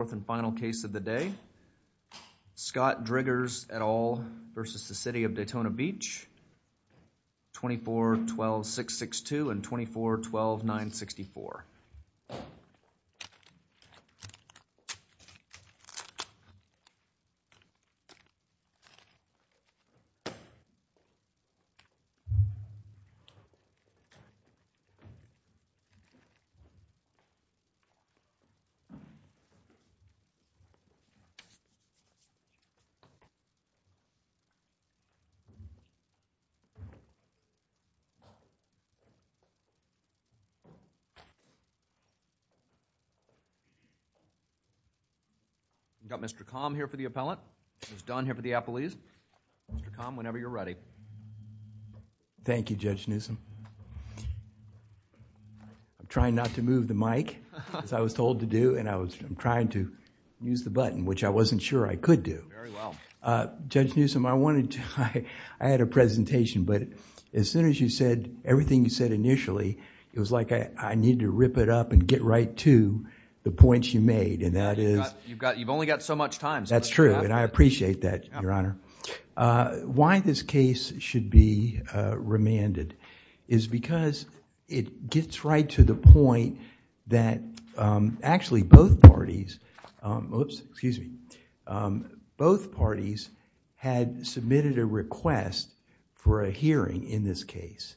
Fourth and final case of the day, Scott Driggers et al. versus the City of Daytona Beach, 24-12-662 and 24-12-964. We've got Mr. Kham here for the appellant, who's done here for the appellees. Mr. Kham, whenever you're ready. Thank you, Judge Newsom. I'm trying not to move the mic, as I was told to do, and I was trying to use the button, which I wasn't sure I could do. Very well. Judge Newsom, I wanted to... I had a presentation, but as soon as you said everything you said initially, it was like I needed to rip it up and get right to the points you made, and that is... You've only got so much time, so... That's true, and I appreciate that, Your Honor. Why this case should be remanded is because it gets right to the point that actually both parties... oops, excuse me. Both parties had submitted a request for a hearing in this case.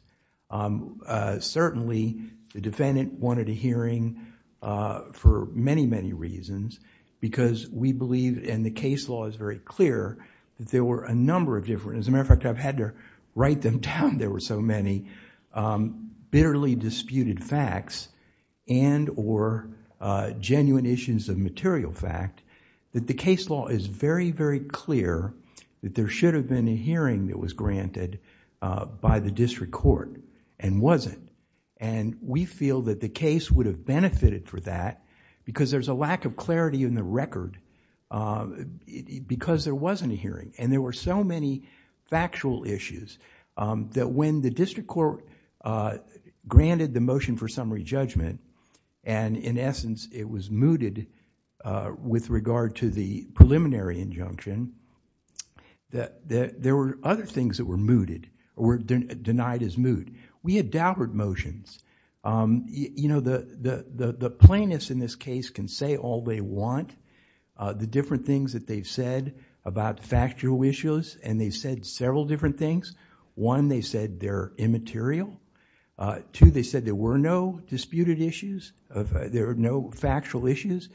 Certainly, the defendant wanted a hearing for many, many reasons because we believe, and the case law is very clear, that there were a number of different... as a matter of fact, I've had to write them down, there were so many, bitterly disputed facts and or genuine issues of material fact that the case law is very, very clear that there should have been a hearing that was granted by the district court and wasn't. We feel that the case would have benefited for that because there's a lack of clarity in the record because there wasn't a hearing, and there were so many factual issues that when the district court granted the motion for summary judgment, and in essence, it was mooted with regard to the preliminary injunction, that there were other things that were mooted or were denied as moot. We had doubted motions. The plaintiffs in this case can say all they want. The different things that they've said about factual issues, and they've said several different things, one, they said they're immaterial, two, they said there were no disputed issues, there were no factual issues,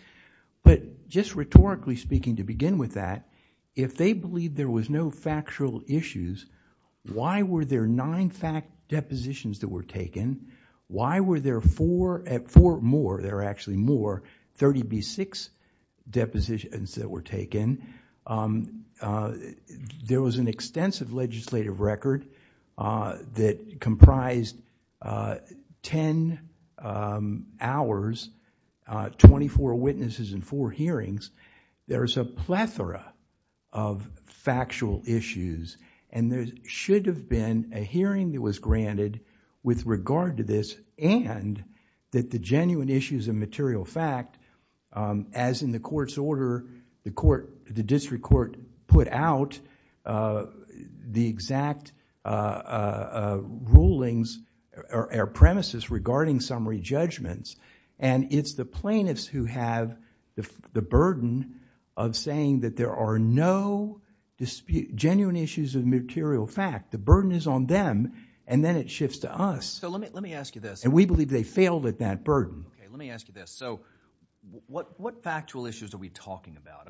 but just rhetorically speaking, to begin with that, if they believe there was no factual issues, why were there nine fact depositions that were taken? Why were there four more, there were actually more, thirty-six depositions that were taken? There was an extensive legislative record that comprised ten hours, twenty-four witnesses and four hearings. There's a plethora of factual issues, and there should have been a hearing that was granted with regard to this, and that the genuine issues of material fact, as in the first order, the district court put out the exact rulings or premises regarding summary judgments, and it's the plaintiffs who have the burden of saying that there are no genuine issues of material fact. The burden is on them, and then it shifts to us, and we believe they failed at that burden. Let me ask you this, what factual issues are we talking about?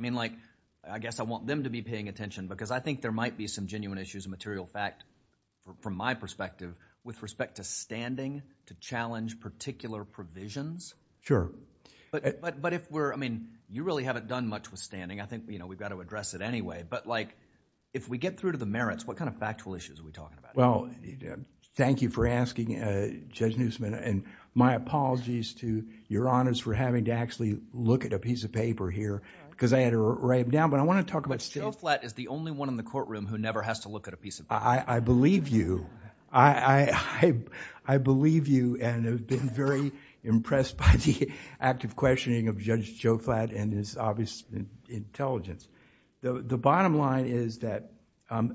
I guess I want them to be paying attention because I think there might be some genuine issues of material fact from my perspective with respect to standing to challenge particular provisions. You really haven't done much with standing, I think we've got to address it anyway, but if we get through to the merits, what kind of factual issues are we talking about? Well, thank you for asking, Judge Neusman, and my apologies to Your Honors for having to actually look at a piece of paper here because I had to write it down, but I want to talk about... But Joe Flatt is the only one in the courtroom who never has to look at a piece of paper. I believe you. I believe you and have been very impressed by the active questioning of Judge Joe Flatt and his obvious intelligence. The bottom line is that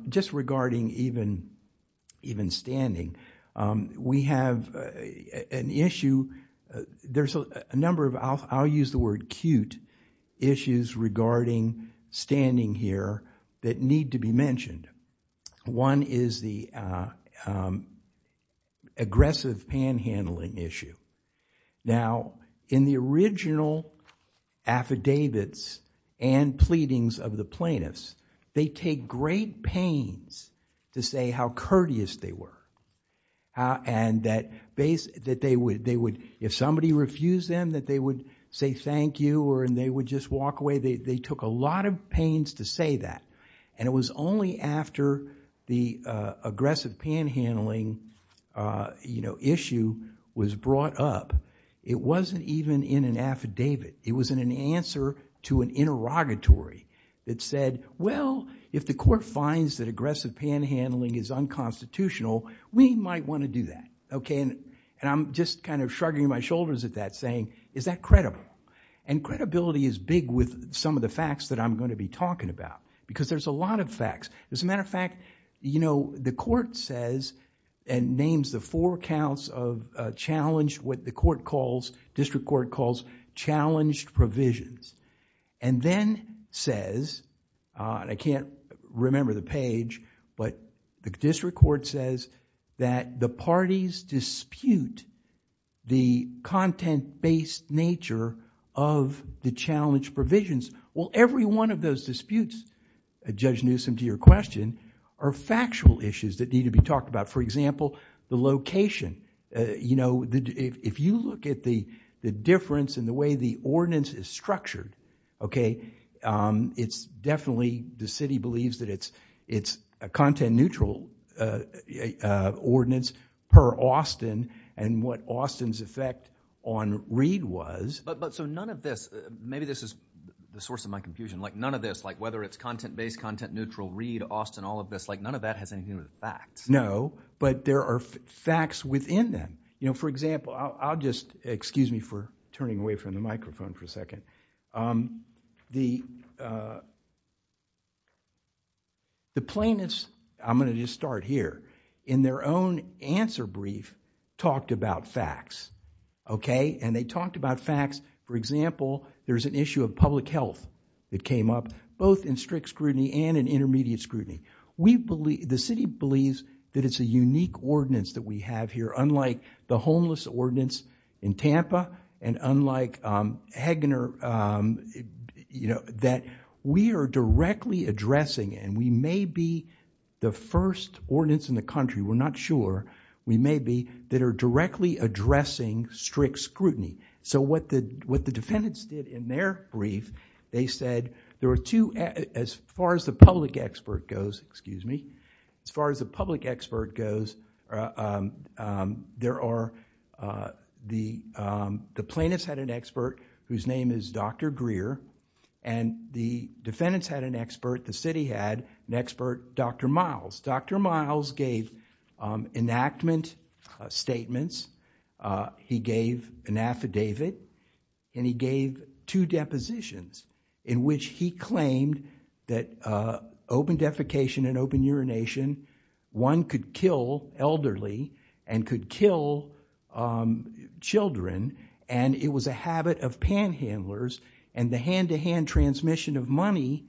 just regarding even standing, we have an issue... I'll use the word cute, issues regarding standing here that need to be mentioned. One is the aggressive panhandling issue. Now, in the original affidavits and pleadings of the plaintiffs, they take great pains to say how courteous they were and if somebody refused them, that they would say thank you and they would just walk away. They took a lot of pains to say that and it was only after the aggressive panhandling issue was brought up. It wasn't even in an affidavit. It was in an answer to an interrogatory that said, well, if the court finds that aggressive panhandling is unconstitutional, we might want to do that. I'm just shrugging my shoulders at that saying, is that credible? Credibility is big with some of the facts that I'm going to be talking about because there's a lot of facts. As a matter of fact, you know, the court says and names the four counts of challenged what the court calls, district court calls, challenged provisions and then says... I can't remember the page, but the district court says that the parties dispute the content-based nature of the challenged provisions. Every one of those disputes, Judge Newsom, to your question, are factual issues that need to be talked about. For example, the location. If you look at the difference in the way the ordinance is structured, it's definitely the city believes that it's a content-neutral ordinance per Austin and what Austin's effect on Reed was... None of this, maybe this is the source of my confusion, like none of this, like whether it's content-based, content-neutral, Reed, Austin, all of this, like none of that has anything to do with facts. No, but there are facts within them. For example, I'll just... excuse me for turning away from the microphone for a second. The plaintiffs, I'm going to just start here, in their own answer brief talked about facts, and they talked about facts, for example, there's an issue of public health that came up, both in strict scrutiny and in intermediate scrutiny. The city believes that it's a unique ordinance that we have here, unlike the homeless ordinance in Tampa and unlike Hagener, that we are directly addressing, and we may be the first ordinance in the country, we're not sure, we may be, that are directly addressing strict scrutiny. What the defendants did in their brief, they said there were two... as far as the public expert goes, excuse me, as far as the public expert goes, there are... the plaintiffs had an expert whose name is Dr. Greer, and the defendants had an expert, the city had an expert, Dr. Miles. Dr. Miles gave enactment statements, he gave an affidavit, and he gave two depositions in which he claimed that open defecation and open urination, one could kill elderly and could kill children, and it was a habit of panhandlers, and the hand-to-hand transmission of money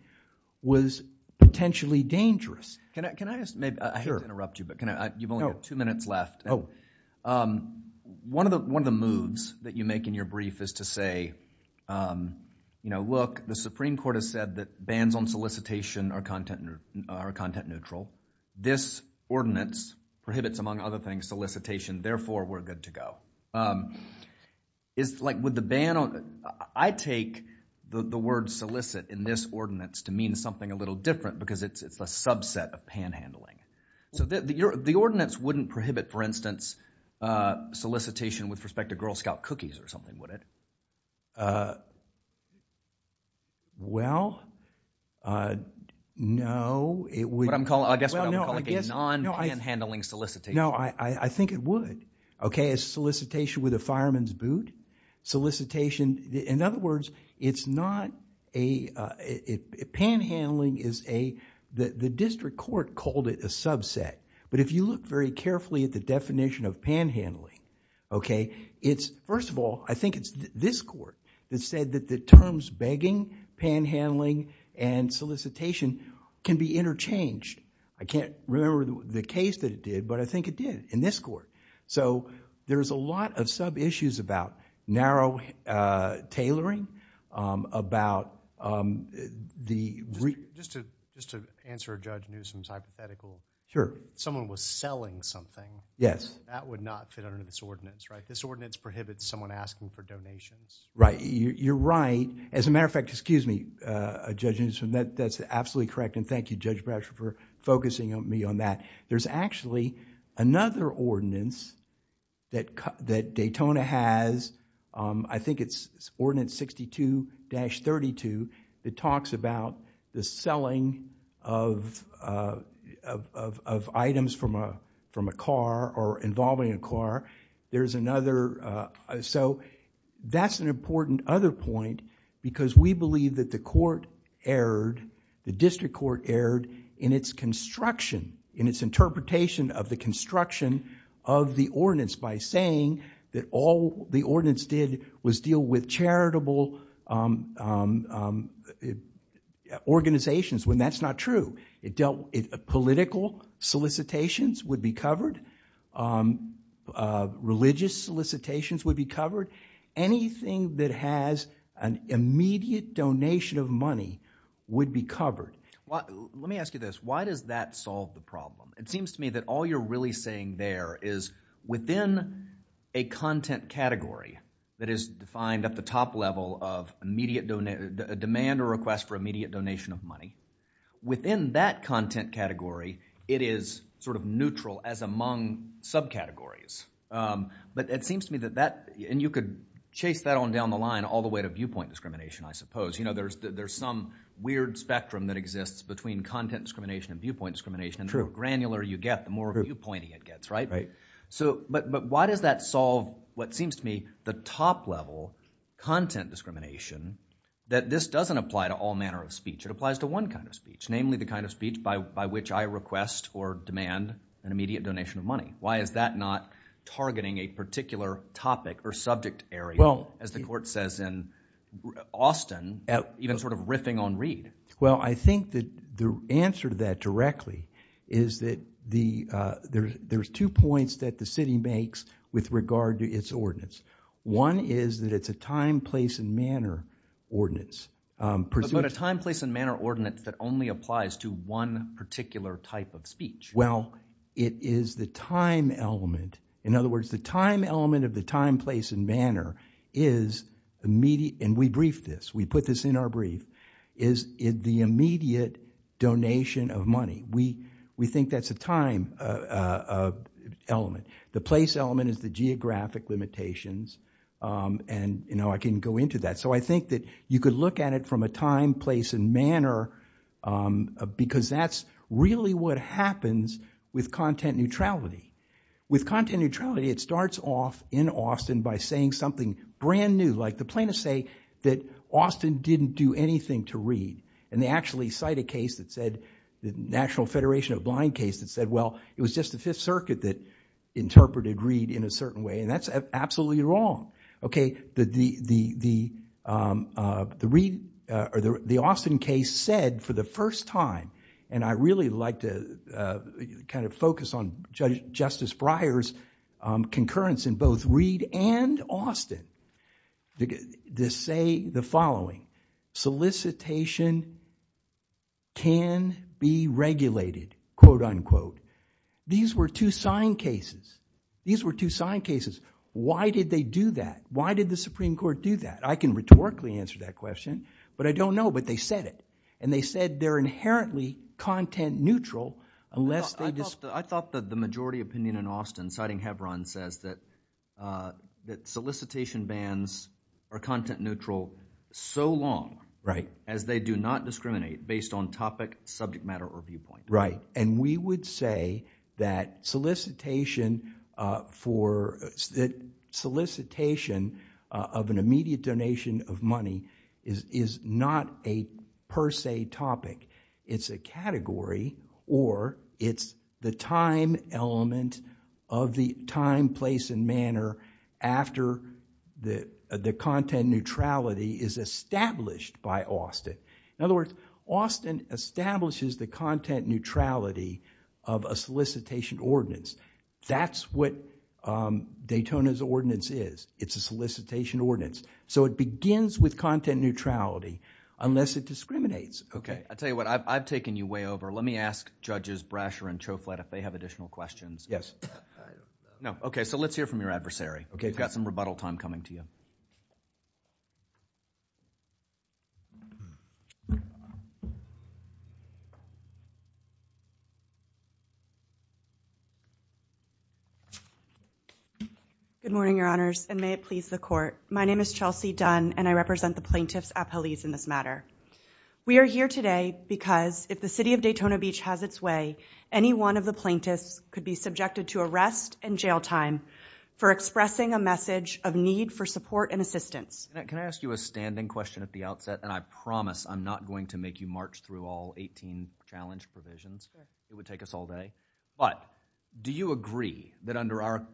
was potentially dangerous. Can I just... I hate to interrupt you, but you've only got two minutes left. One of the moves that you make in your brief is to say, you know, look, the Supreme Court has said that bans on solicitation are content neutral. This ordinance prohibits, among other things, solicitation, therefore we're good to go. Um, is, like, would the ban on... I take the word solicit in this ordinance to mean something a little different because it's a subset of panhandling. So the ordinance wouldn't prohibit, for instance, solicitation with respect to Girl Scout cookies or something, would it? Uh, well, uh, no, it would... What I'm calling, I guess what I'm calling a non-panhandling solicitation. No, I think it would. Okay, a solicitation with a fireman's boot solicitation, in other words, it's not a... panhandling is a... the district court called it a subset, but if you look very carefully at the definition of panhandling, okay, it's, first of all, I think it's this court that said that the terms begging, panhandling, and solicitation can be interchanged. I can't remember the case that it did, but I think it did in this court. So, there's a lot of sub-issues about narrow, uh, tailoring, um, about, um, the... Just to, just to answer Judge Newsom's hypothetical, if someone was selling something, that would not fit under this ordinance, right? This ordinance prohibits someone asking for donations. Right. You're right. As a matter of fact, excuse me, Judge Newsom, that's absolutely correct, and thank you, Judge Bradshaw, for focusing me on that. There's actually another ordinance that, that Daytona has, um, I think it's ordinance 62-32 that talks about the selling of, uh, of, of items from a, from a car or involving a car. There's another, uh, so, that's an important other point because we believe that the court erred, the district court erred in its construction, in its interpretation of the construction of the ordinance by saying that all the ordinance did was deal with charitable, um, um, uh, organizations when that's not true. It dealt, political solicitations would be covered, um, uh, religious solicitations would be covered, anything that has an immediate donation of money would be covered. Well, let me ask you this. Why does that solve the problem? It seems to me that all you're really saying there is within a content category that is defined at the top level of immediate, uh, demand or request for immediate donation of money, within that content category, it is sort of neutral as among subcategories, um, but it seems to me that that, and you could chase that on down the line all the way to viewpoint discrimination, I suppose, you know, there's, there's some weird spectrum that exists between content discrimination and viewpoint discrimination, and the more granular you get, the more viewpointing it gets, right? So, but, but why does that solve what seems to me the top level content discrimination that this doesn't apply to all manner of speech? It applies to one kind of speech, namely the kind of speech by, by which I request or demand an immediate donation of money. Why is that not targeting a particular topic or subject area, as the court says in Austin, even sort of riffing on Reed? Well, I think that the answer to that directly is that the, uh, there's, there's two points that the city makes with regard to its ordinance. One is that it's a time, place, and manner ordinance, um, But a time, place, and manner ordinance that only applies to one particular type of speech. Well, it is the time element. In other words, the time element of the time, place, and manner is immediate, and we briefed this, we put this in our brief, is it the immediate donation of money. We, we think that's a time, uh, uh, uh, element. The place element is the geographic limitations, um, and, you know, I can go into that. So I think that you could look at it from a time, place, and manner, um, because that's really what happens with content neutrality. With content neutrality, it starts off in Austin by saying something brand new. Like the plaintiffs say that Austin didn't do anything to Reed, and they actually cite a case that said, the National Federation of Blind case that said, well, it was just the Fifth Circuit that interpreted Reed in a certain way, and that's absolutely wrong. Okay, the, the, the, um, uh, the Reed, uh, or the, the Austin case said for the first time, and I really like to, uh, kind of focus on Judge, Justice Breyer's, um, concurrence in both Reed and Austin, to say the following, solicitation can be regulated, quote, unquote. These were two sign cases. These were two sign cases. Why did they do that? Why did the Supreme Court do that? I can rhetorically answer that question, but I don't know, but they said it. And they said they're inherently content neutral, unless they just. I thought that the majority opinion in Austin, citing Hebron, says that, uh, that solicitation bans are content neutral so long. Right. As they do not discriminate based on topic, subject matter, or viewpoint. Right. And we would say that solicitation, uh, for, solicitation, uh, of an immediate donation of money is, is not a per se topic. It's a category, or it's the time element of the time, place, and manner after the, the content neutrality is established by Austin. In other words, Austin establishes the content neutrality of a solicitation ordinance. That's what, um, Daytona's ordinance is. It's a solicitation ordinance. So it begins with content neutrality, unless it discriminates. I'll tell you what, I've, I've taken you way over. Let me ask Judges Brasher and Chouflette if they have additional questions. Yes. No. Okay. So let's hear from your adversary. Okay. We've got some rebuttal time coming to you. Good morning, your honors, and may it please the court. My name is Chelsea Dunn and I represent the plaintiffs at police in this matter. We are here today because if the city of Daytona Beach has its way, any one of the plaintiffs could be subjected to arrest and jail time for expressing a message of need for support and assistance. Can I ask you a standing question at the outset? And I promise I'm not going to make you march through all 18 challenge provisions. It would take us all day, but do you agree that under our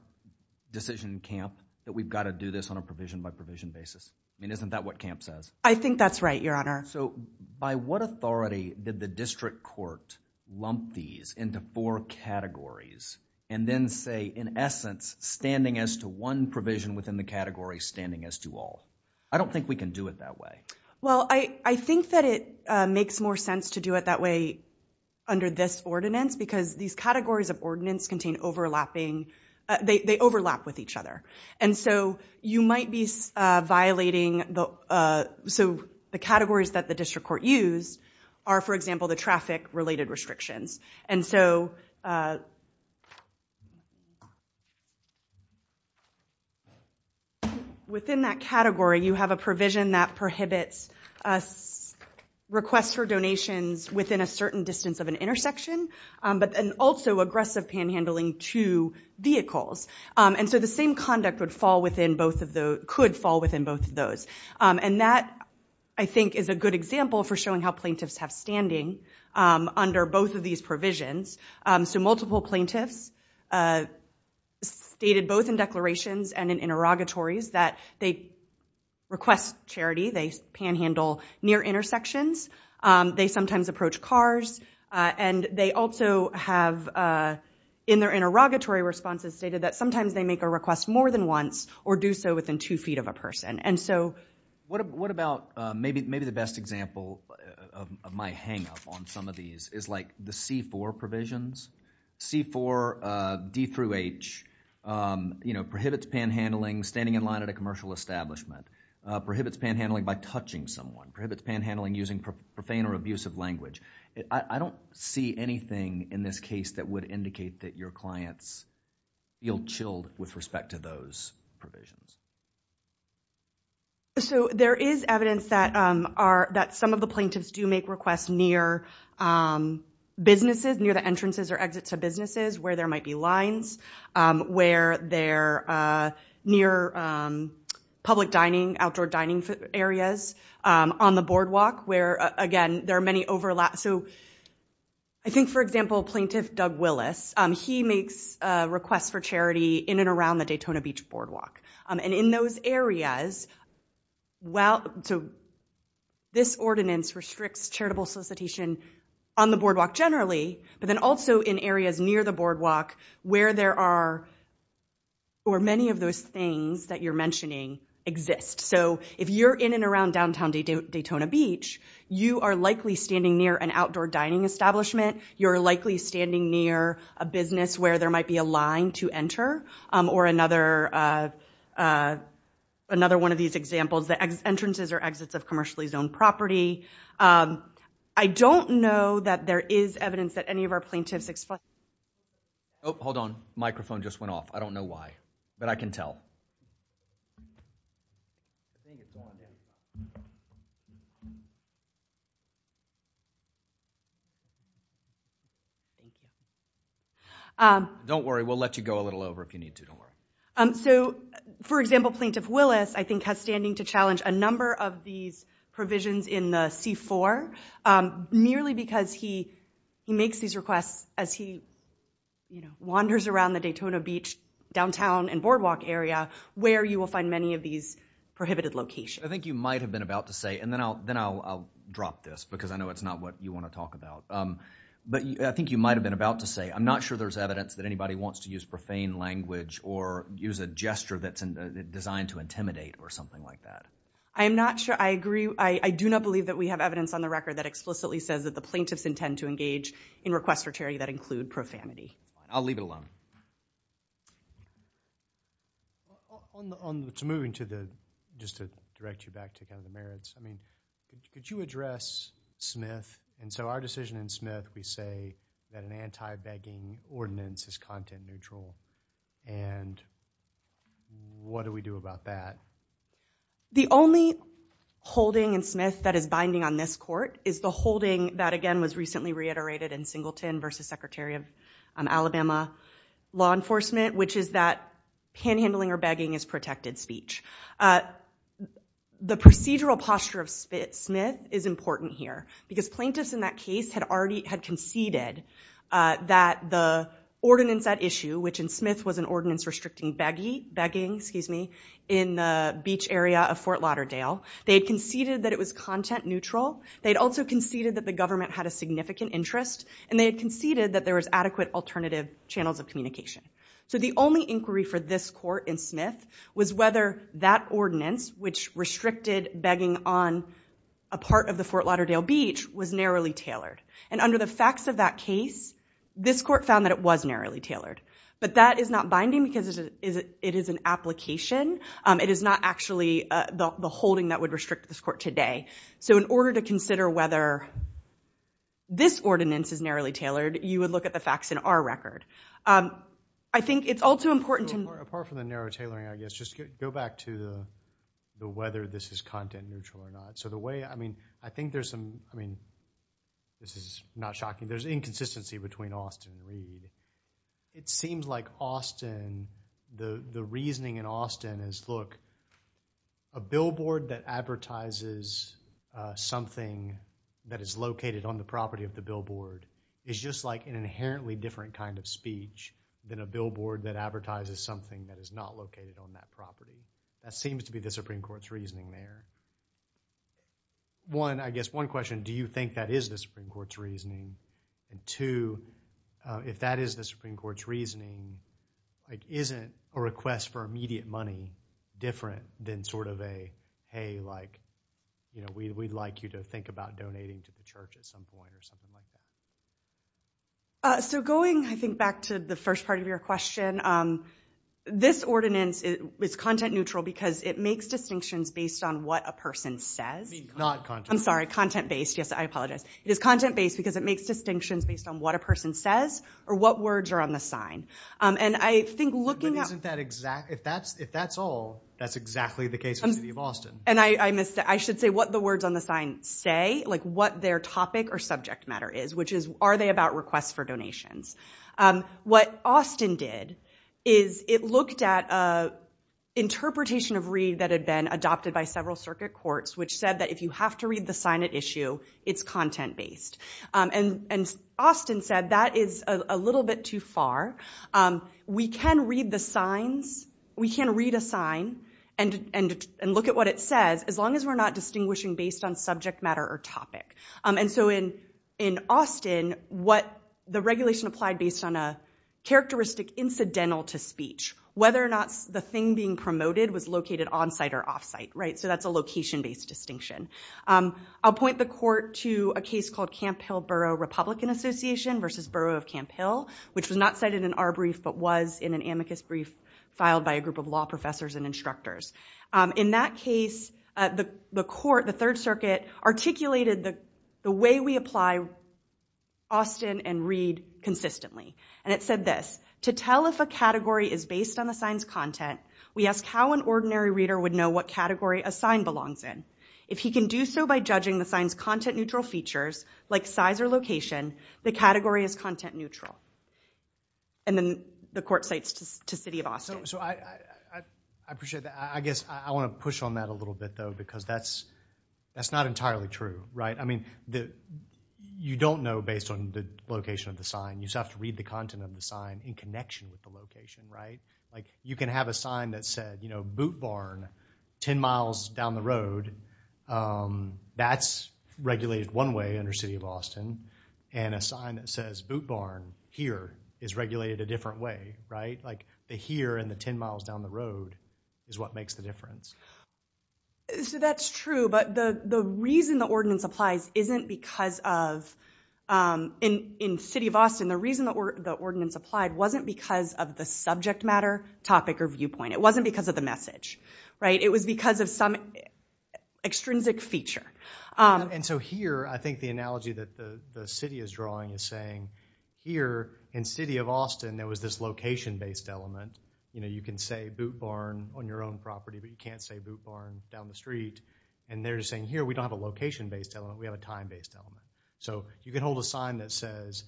decision camp that we've got to do this on a provision by provision basis? I mean, isn't that what camp says? I think that's right, your honor. So by what authority did the district court lump these into four categories and then say, in essence, standing as to one provision within the category, standing as to all? I don't think we can do it that way. Well, I think that it makes more sense to do it that way under this ordinance because these categories of ordinance contain overlapping, they overlap with each other. And so you might be violating the categories that the district court use are, for example, the traffic related restrictions. And so within that category, you have a provision that prohibits requests for donations within a certain distance of an intersection, but also aggressive panhandling to vehicles. And so the same conduct would fall within both of those, could fall within both of those. And that, I think, is a good example for showing how plaintiffs have standing under both of these provisions. So multiple plaintiffs stated both in declarations and in interrogatories that they request charity, they panhandle near intersections, they sometimes approach cars, and they also have in their interrogatory responses stated that sometimes they make a request more than once or do so within two feet of a person. And so... What about, maybe the best example of my hangup on some of these is like the C-4 provisions. C-4, D through H, prohibits panhandling, standing in line at a commercial establishment, prohibits panhandling by touching someone, prohibits panhandling using profane or abusive language. I don't see anything in this case that would indicate that your clients feel chilled with respect to those provisions. So there is evidence that some of the plaintiffs do make requests near businesses, near the entrances or exits of businesses where there might be lines, where they're near public dining, outdoor dining areas, on the boardwalk where, again, there are many overlap. So I think, for example, Plaintiff Doug Willis, he makes requests for charity in and around the Daytona Beach Boardwalk. And in those areas, this ordinance restricts charitable solicitation on the boardwalk generally, but then also in areas near the boardwalk where there are, or many of those things that you're mentioning exist. So if you're in and around downtown Daytona Beach, you are likely standing near an outdoor dining establishment. You're likely standing near a business where there might be a line to enter, or another one of these examples, the entrances or exits of commercially zoned property. I don't know that there is evidence that any of our plaintiffs explain... Oh, hold on. Microphone just went off. I don't know why. But I can tell. Don't worry. We'll let you go a little over if you need to. Don't worry. So, for example, Plaintiff Willis, I think, has standing to challenge a number of these provisions in the C-4, merely because he makes these requests as he wanders around the Daytona Beach downtown and boardwalk area where you will find many of these prohibited locations. I think you might have been about to say, and then I'll drop this because I know it's not what you want to talk about, but I think you might have been about to say, I'm not sure there's evidence that anybody wants to use profane language or use a gesture that's designed to intimidate or something like that. I am not sure. I agree. I do not believe that we have evidence on the record that explicitly says that the plaintiffs intend to engage in requests for charity that include profanity. I'll leave it alone. Thank you. It's moving to the, just to direct you back to kind of the merits, I mean, could you address Smith? And so our decision in Smith, we say that an anti-begging ordinance is content neutral. And what do we do about that? The only holding in Smith that is binding on this court is the holding that, again, was recently reiterated in Singleton versus Secretary of Alabama Law Enforcement, which is that panhandling or begging is protected speech. The procedural posture of Smith is important here because plaintiffs in that case had conceded that the ordinance at issue, which in Smith was an ordinance restricting begging in the beach area of Fort Lauderdale, they had conceded that it was content neutral. They had also conceded that the government had a significant interest, and they had conceded that there was adequate alternative channels of communication. So the only inquiry for this court in Smith was whether that ordinance, which restricted begging on a part of the Fort Lauderdale beach, was narrowly tailored. And under the facts of that case, this court found that it was narrowly tailored. But that is not binding because it is an application. It is not actually the holding that would restrict this court today. So in order to consider whether this ordinance is narrowly tailored, you would look at the facts in our record. I think it's all too important to... Apart from the narrow tailoring, I guess, just go back to the whether this is content neutral or not. So the way, I mean, I think there's some, I mean, this is not shocking, there's inconsistency between Austin and Reed. It seems like Austin, the reasoning in Austin is, look, a billboard that advertises something that is located on the property of the billboard is just like an inherently different kind of speech than a billboard that advertises something that is not located on that property. That seems to be the Supreme Court's reasoning there. One, I guess one question, do you think that is the Supreme Court's reasoning? And two, if that is the Supreme Court's reasoning, isn't a request for immediate money different than sort of a, hey, like, we'd like you to think about donating to the church at some point or something like that? So going, I think, back to the first part of your question, this ordinance is content neutral because it makes distinctions based on what a person says. I mean, not content neutral. I'm sorry, content based. Yes, I apologize. It is content based because it makes distinctions based on what a person says or what words are on the sign. And I think looking at- But isn't that exact, if that's all, that's exactly the case with the City of Austin. And I missed, I should say what the words on the sign say, like what their topic or subject matter is, which is, are they about requests for donations? What Austin did is it looked at interpretation of Reed that had been adopted by several circuit courts, which said that if you have to read the sign at issue, it's content based. And Austin said that is a little bit too far. We can read the signs. We can read a sign and look at what it says, as long as we're not distinguishing based on subject matter or topic. And so in Austin, what the regulation applied based on a characteristic incidental to speech, whether or not the thing being promoted was located onsite or offsite, right? Because that's a location-based distinction. I'll point the court to a case called Camp Hill Borough Republican Association versus Borough of Camp Hill, which was not cited in our brief, but was in an amicus brief filed by a group of law professors and instructors. In that case, the court, the Third Circuit, articulated the way we apply Austin and Reed consistently. And it said this, to tell if a category is based on the sign's content, we ask how an ordinary reader would know what category a sign belongs in. If he can do so by judging the sign's content-neutral features, like size or location, the category is content-neutral. And then the court cites to City of Austin. So I appreciate that. I guess I want to push on that a little bit, though, because that's not entirely true, right? I mean, you don't know based on the location of the sign. You just have to read the content of the sign in connection with the location, right? You can have a sign that said, you know, Boot Barn, 10 miles down the road. That's regulated one way under City of Austin. And a sign that says Boot Barn, here, is regulated a different way, right? Like the here and the 10 miles down the road is what makes the difference. So that's true. But the reason the ordinance applies isn't because of, in City of Austin, the reason the ordinance applied wasn't because of the subject matter, topic, or viewpoint. It wasn't because of the message, right? It was because of some extrinsic feature. And so here, I think the analogy that the city is drawing is saying, here, in City of Austin, there was this location-based element. You know, you can say Boot Barn on your own property, but you can't say Boot Barn down the street. And they're just saying, here, we don't have a location-based element. We have a time-based element. So you can hold a sign that says,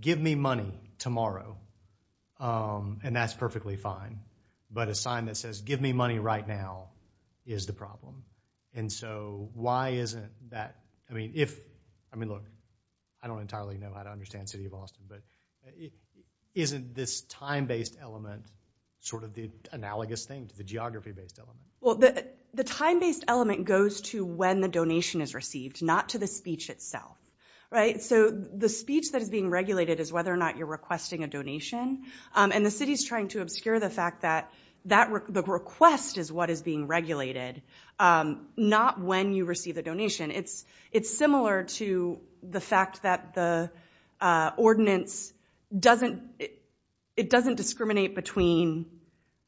give me money tomorrow, and that's perfectly fine. But a sign that says, give me money right now, is the problem. And so why isn't that, I mean, if, I mean, look, I don't entirely know how to understand City of Austin, but isn't this time-based element sort of the analogous thing to the geography-based element? Well, the time-based element goes to when the donation is received, not to the speech itself. Right? So the speech that is being regulated is whether or not you're requesting a donation. And the city's trying to obscure the fact that the request is what is being regulated, not when you receive the donation. It's similar to the fact that the ordinance doesn't discriminate between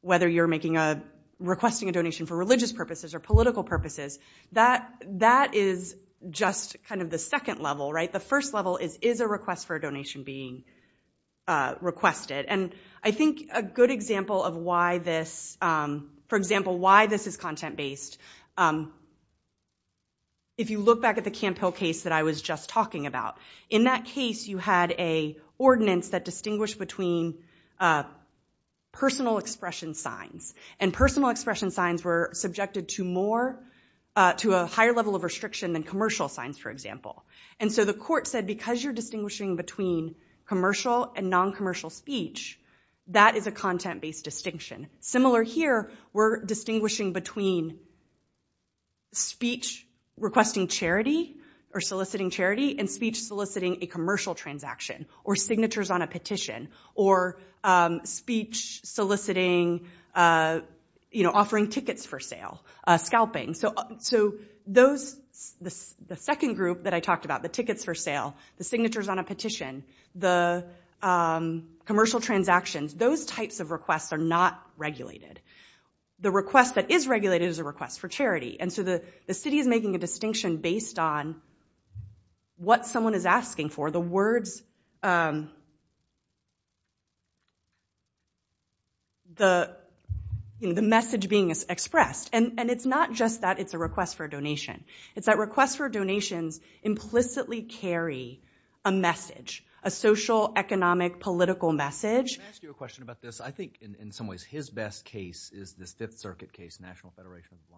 whether you're making a, requesting a donation for religious purposes or political purposes. That is just kind of the second level, right? The first level is, is a request for a donation being requested? And I think a good example of why this, for example, why this is content-based, if you look back at the Camp Hill case that I was just talking about, in that case, you had a ordinance that distinguished between personal expression signs. And personal expression signs were subjected to more, to a higher level of restriction than commercial signs, for example. And so the court said, because you're distinguishing between commercial and non-commercial speech, that is a content-based distinction. Similar here, we're distinguishing between speech requesting charity or soliciting charity and speech soliciting a commercial transaction or signatures on a petition or speech soliciting a, you know, offering tickets for sale, scalping. So those, the second group that I talked about, the tickets for sale, the signatures on a petition, the commercial transactions, those types of requests are not regulated. The request that is regulated is a request for charity. And so the city is making a distinction based on what someone is asking for. The words, um, the, you know, the message being expressed. And it's not just that it's a request for a donation. It's that requests for donations implicitly carry a message, a social, economic, political message. Can I ask you a question about this? I think in some ways his best case is this Fifth Circuit case, National Federation of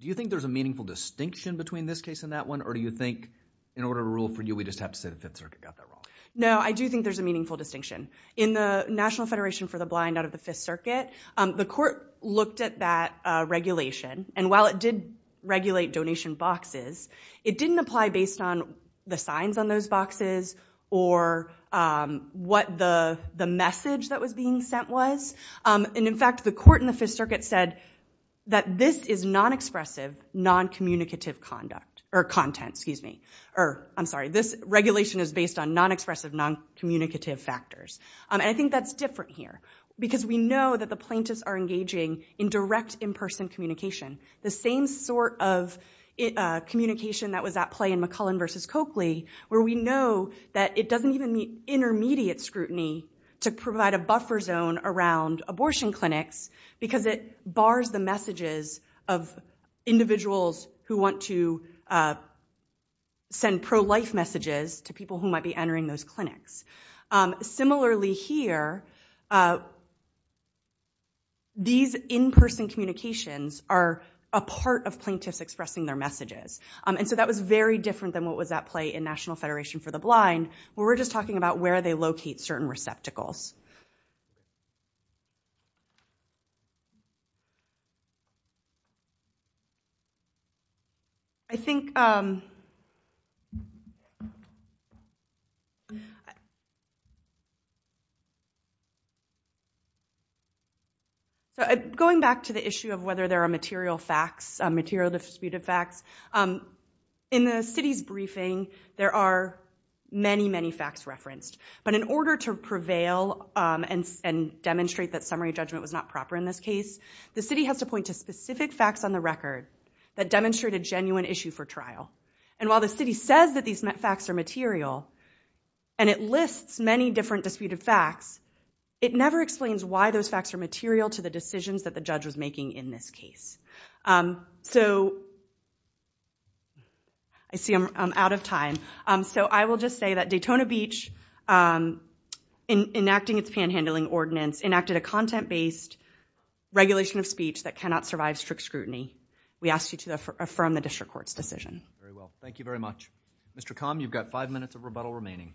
Do you think there's a meaningful distinction between this case and that one, or do you think in order to rule for you, we just have to say the Fifth Circuit got that wrong? No, I do think there's a meaningful distinction. In the National Federation for the Blind out of the Fifth Circuit, um, the court looked at that, uh, regulation, and while it did regulate donation boxes, it didn't apply based on the signs on those boxes or, um, what the, the message that was being sent was. Um, and in fact, the court in the Fifth Circuit said that this is non-expressive, non-communicative conduct, or content, excuse me, or, I'm sorry, this regulation is based on non-expressive, non-communicative factors. Um, and I think that's different here because we know that the plaintiffs are engaging in direct in-person communication, the same sort of, uh, communication that was at play in McCullen versus Coakley, where we know that it doesn't even meet intermediate scrutiny to provide a buffer zone around abortion clinics because it bars the messages of individuals who want to, uh, send pro-life messages to people who might be entering those clinics. Um, similarly here, uh, these in-person communications are a part of plaintiffs expressing their messages, um, and so that was very different than what was at play in National Federation for the Blind, where we're just talking about where they locate certain receptacles. I think, um, going back to the issue of whether there are material facts, material disputed facts, um, in the city's briefing, there are many, many facts referenced, but in order to prevail, um, and demonstrate that summary judgment was not proper in this case, the city has to point to specific facts on the record that demonstrate a genuine issue for trial. And while the city says that these facts are material, and it lists many different disputed facts, it never explains why those facts are material to the decisions that the judge was making in this case. Um, so, I see I'm out of time, um, so I will just say that Daytona Beach, um, in enacting its panhandling ordinance, enacted a content-based regulation of speech that cannot survive strict scrutiny. We ask you to affirm the district court's decision. Very well. Thank you very much. Mr. Comm, you've got five minutes of rebuttal remaining.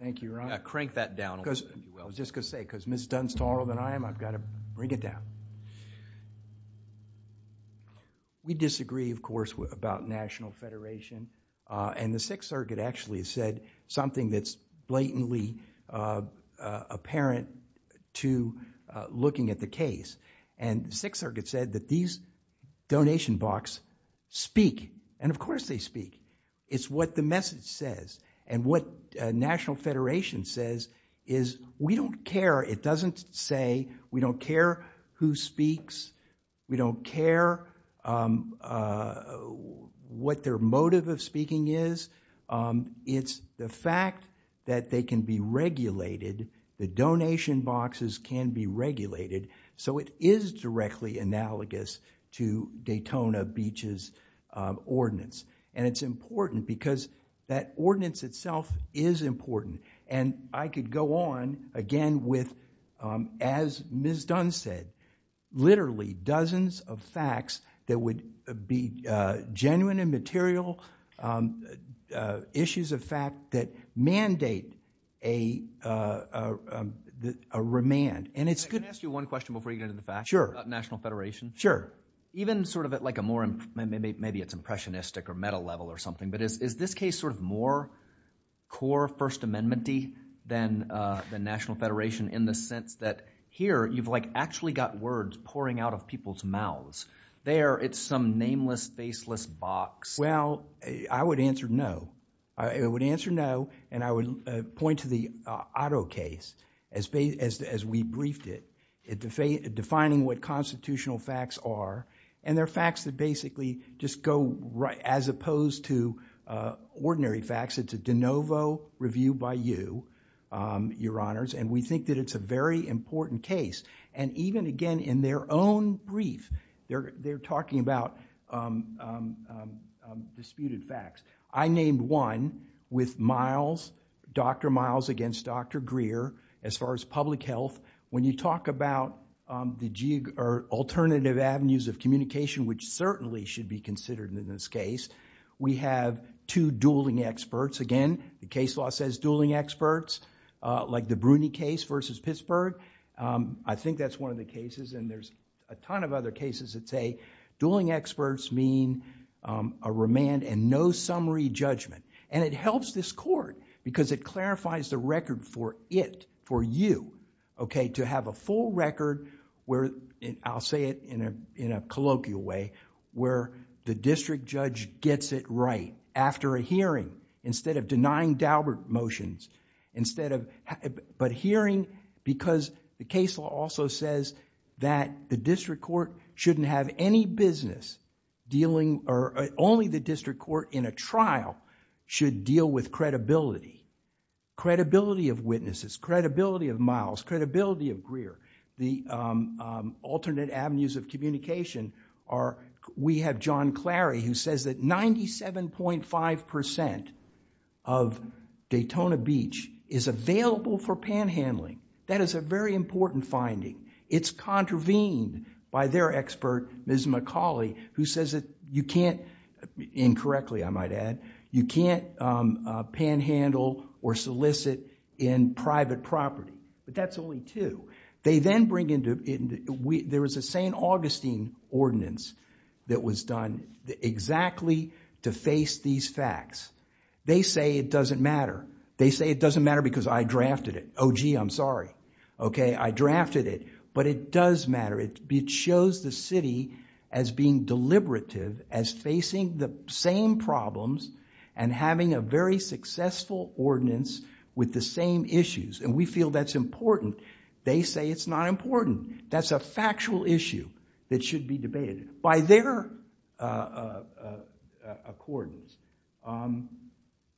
Thank you, Your Honor. Crank that down a little bit. I was just going to say, because Ms. Dunn's taller than I am, I've got to bring it down. We disagree, of course, about National Federation, uh, and the Sixth Circuit actually has said something that's blatantly, uh, uh, apparent to, uh, looking at the case. And the Sixth Circuit said that these donation box speak, and of course they speak. It's what the message says, and what, uh, National Federation says is we don't care, it doesn't say we don't care who speaks, we don't care, um, uh, what their motive of speaking is, um, it's the fact that they can be regulated, the donation boxes can be regulated, so it is directly analogous to Daytona Beach's, uh, ordinance. And it's important because that ordinance itself is important. And I could go on again with, um, as Ms. Dunn said, literally dozens of facts that would be, uh, genuine and material, um, uh, issues of fact that mandate a, uh, uh, a remand. And it's good. Can I ask you one question before you get into the facts? Sure. About National Federation? Sure. Even sort of at like a more, maybe it's impressionistic or metal level or something, but is this case sort of more core First Amendment-y than, uh, than National Federation in the sense that here you've like actually got words pouring out of people's mouths. There, it's some nameless, faceless box. Well, I would answer no. I would answer no, and I would, uh, point to the, uh, Otto case as we briefed it. Defining what constitutional facts are, and they're facts that basically just go right, as opposed to, uh, ordinary facts. It's a de novo review by you, um, your important case. And even again in their own brief, they're, they're talking about, um, um, um, um, disputed facts. I named one with Miles, Dr. Miles against Dr. Greer, as far as public health. When you talk about, um, the geo, or alternative avenues of communication, which certainly should be considered in this case, we have two dueling experts. Again, the case law says dueling experts, uh, like the Bruni case versus Pittsburgh. Um, I think that's one of the cases, and there's a ton of other cases that say dueling experts mean, um, a remand and no summary judgment. And it helps this court because it clarifies the record for it, for you, okay, to have a full record where, and I'll say it in a, in a colloquial way, where the district judge gets it right after a hearing, instead of denying Daubert motions, instead of, but hearing because the case law also says that the district court shouldn't have any business dealing, or only the district court in a trial should deal with credibility. Credibility of witnesses, credibility of Miles, credibility of Greer, the, um, um, alternate avenues of communication are, we have John Clary who says that 97.5% of Daytona Beach is available for panhandling. That is a very important finding. It's contravened by their expert, Ms. McCauley, who says that you can't, incorrectly I might add, you can't, um, panhandle or solicit in private property. But that's only two. They then bring into, there was a St. Augustine ordinance that was done exactly to face these facts. They say it doesn't matter. They say it doesn't matter because I drafted it. Oh gee, I'm sorry. Okay, I drafted it. But it does matter. It shows the city as being deliberative, as facing the same problems, and having a very successful ordinance with the same issues. And we feel that's important. They say it's not important. That's a factual issue that should be debated. By their, uh, uh, uh, accordance, um,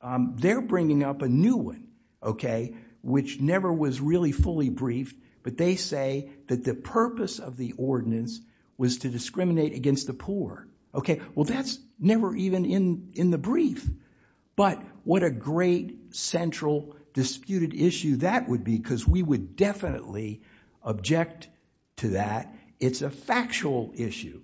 um, they're bringing up a new one, okay, which never was really fully briefed, but they say that the purpose of the ordinance was to discriminate against the poor. Okay, well that's never even in, in the brief. But what a great central disputed issue that would be, because we would definitely object to that. It's a factual issue.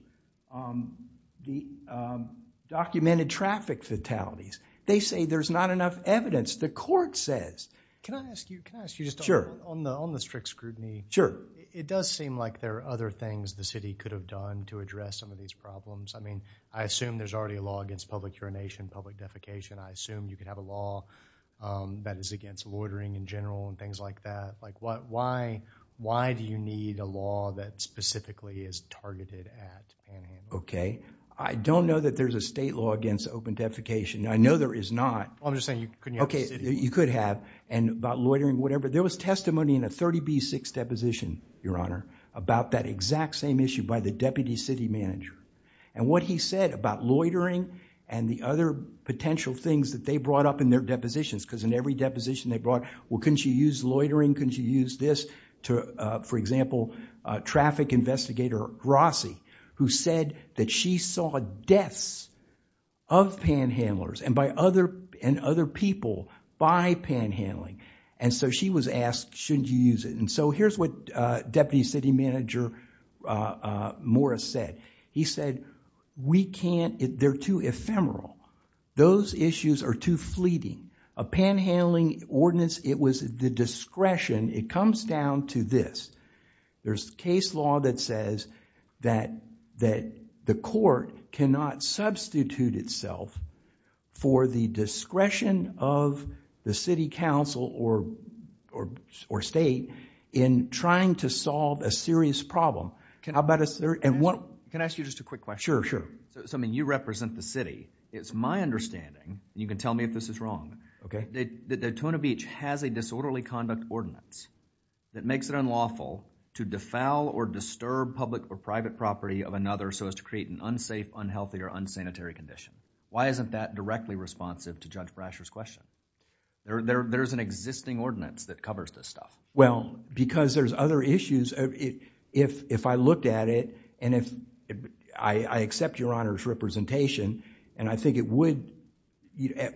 Um, the, um, documented traffic fatalities. They say there's not enough evidence. The court says. Can I ask you, can I ask you just on the strict scrutiny? Sure. It does seem like there are other things the city could have done to address some of these problems. I mean, I assume there's already a law against public urination, public defecation. I assume you could have a law, um, that is against loitering in general, and things like that. Like what, why, why do you need a law that specifically is targeted at panhandling? Okay, I don't know that there's a state law against open defecation. I know there is not. I'm just saying you couldn't have the city. You could have, and about loitering, whatever. There was testimony in a 30B6 deposition, your honor, about that exact same issue by the deputy city manager. And what he said about loitering and the other potential things that they brought up in their depositions, because in every deposition they brought, well couldn't you use loitering? Couldn't you use this? To, uh, for example, uh, traffic investigator Rossi, who said that she saw deaths of panhandlers and by other, and other people by panhandling. And so she was asked, shouldn't you use it? And so here's what, uh, deputy city manager, uh, uh, Morris said. He said, we can't, they're too ephemeral. Those issues are too fleeting. A panhandling ordinance, it was the discretion, it comes down to this. There's case law that says that, that the court cannot substitute itself for the discretion of the city council or, or, or state in trying to solve a serious problem. How about a serious, and what. Can I ask you just a quick question? Sure, sure. So, I mean, you represent the city. It's my understanding, and you can tell me if this is wrong, that Daytona Beach has a disorderly conduct ordinance that makes it unlawful to defoul or disturb public or private property of another so as to create an unsafe, unhealthy, or unsanitary condition. Why isn't that directly responsive to Judge Brasher's question? There's an existing ordinance that covers this stuff. Well, because there's other issues. If, if I looked at it, and if I, I accept your Honor's representation, and I think it would,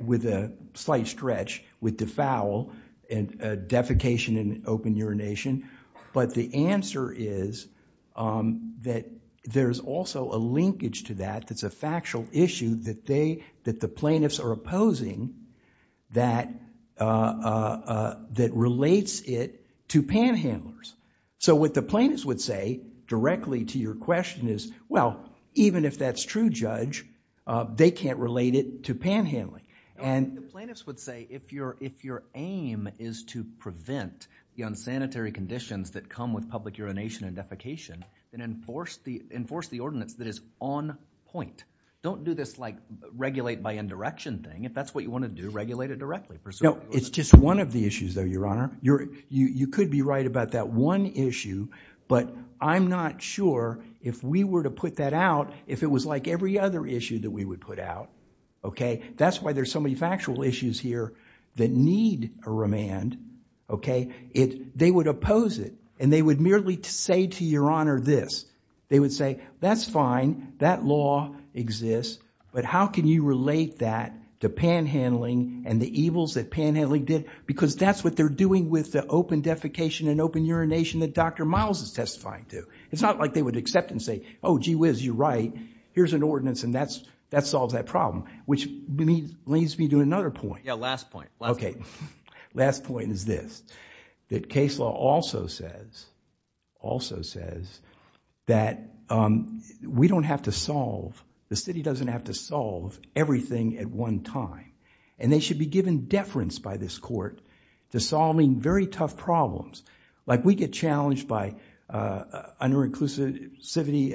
with a slight stretch, with defoul and defecation and open urination, but the answer is that there's also a linkage to that, that's a factual issue that they, that the plaintiffs are opposing that, that relates it to panhandlers. So what the plaintiffs would say directly to your Honor? I think the plaintiffs would say if your, if your aim is to prevent the unsanitary conditions that come with public urination and defecation, then enforce the, enforce the ordinance that is on point. Don't do this, like, regulate by indirection thing. If that's what you want to do, regulate it directly. No, it's just one of the issues, though, your Honor. You're, you could be right about that one issue, but I'm not sure if we were to put that out, if it was like every other issue that we would put out, okay? That's why there's so many factual issues here that need a remand, okay? It, they would oppose it, and they would merely say to your Honor this. They would say, that's fine, that law exists, but how can you relate that to panhandling and the evils that panhandling did? Because that's what they're doing with the open defecation and open urination that Dr. Miles is testifying to. It's not like they would accept and say, oh, gee whiz, you're right, here's an ordinance and that's, that solves that problem, which leads me to another point. Yeah, last point. Okay, last point is this, that case law also says, also says, that we don't have to solve, the city doesn't have to solve everything at one time, and they should be given deference by this court to solving very tough problems. Like, we get challenged by under-inclusivity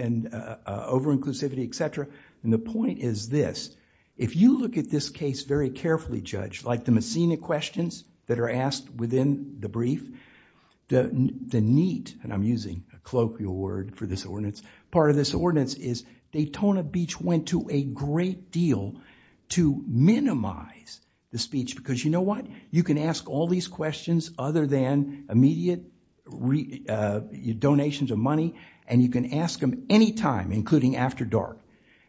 and over-inclusivity, et cetera, and the point is this, if you look at this case very carefully, Judge, like the Messina questions that are asked within the brief, the neat, and I'm using a colloquial word for this ordinance, part of this ordinance is Daytona Beach went to a great deal to minimize the speech, because you know what? You can ask all these questions other than immediate donations of money, and you can ask them any time, including after dark,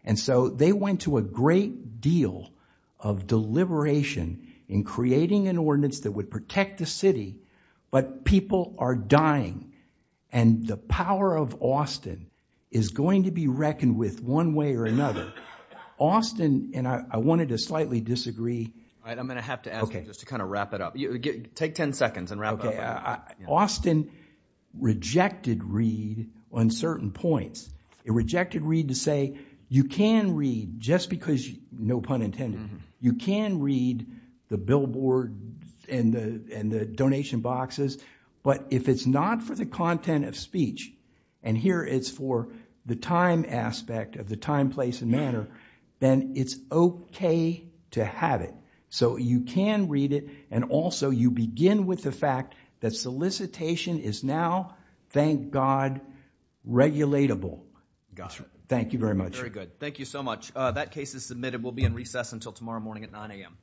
and so they went to a great deal of deliberation in creating an ordinance that would protect the city, but people are dying, and the power of Austin is going to be reckoned with one way or another. Austin, and I wanted to slightly disagree. All right, I'm going to have to ask you just to kind of wrap it up. Take 10 seconds and wrap it up. Austin rejected read on certain points. It rejected read to say, you can read, just because you, no pun intended, you can read the billboard and the donation boxes, but if it's not for the content of speech, and here it's for the time aspect of the time, place, and manner, then it's okay to have it, so you can read it, and also you begin with the fact that solicitation is now, thank God, regulatable. Thank you very much. Thank you so much. That case is submitted. We'll be in recess until tomorrow morning at 9 a.m.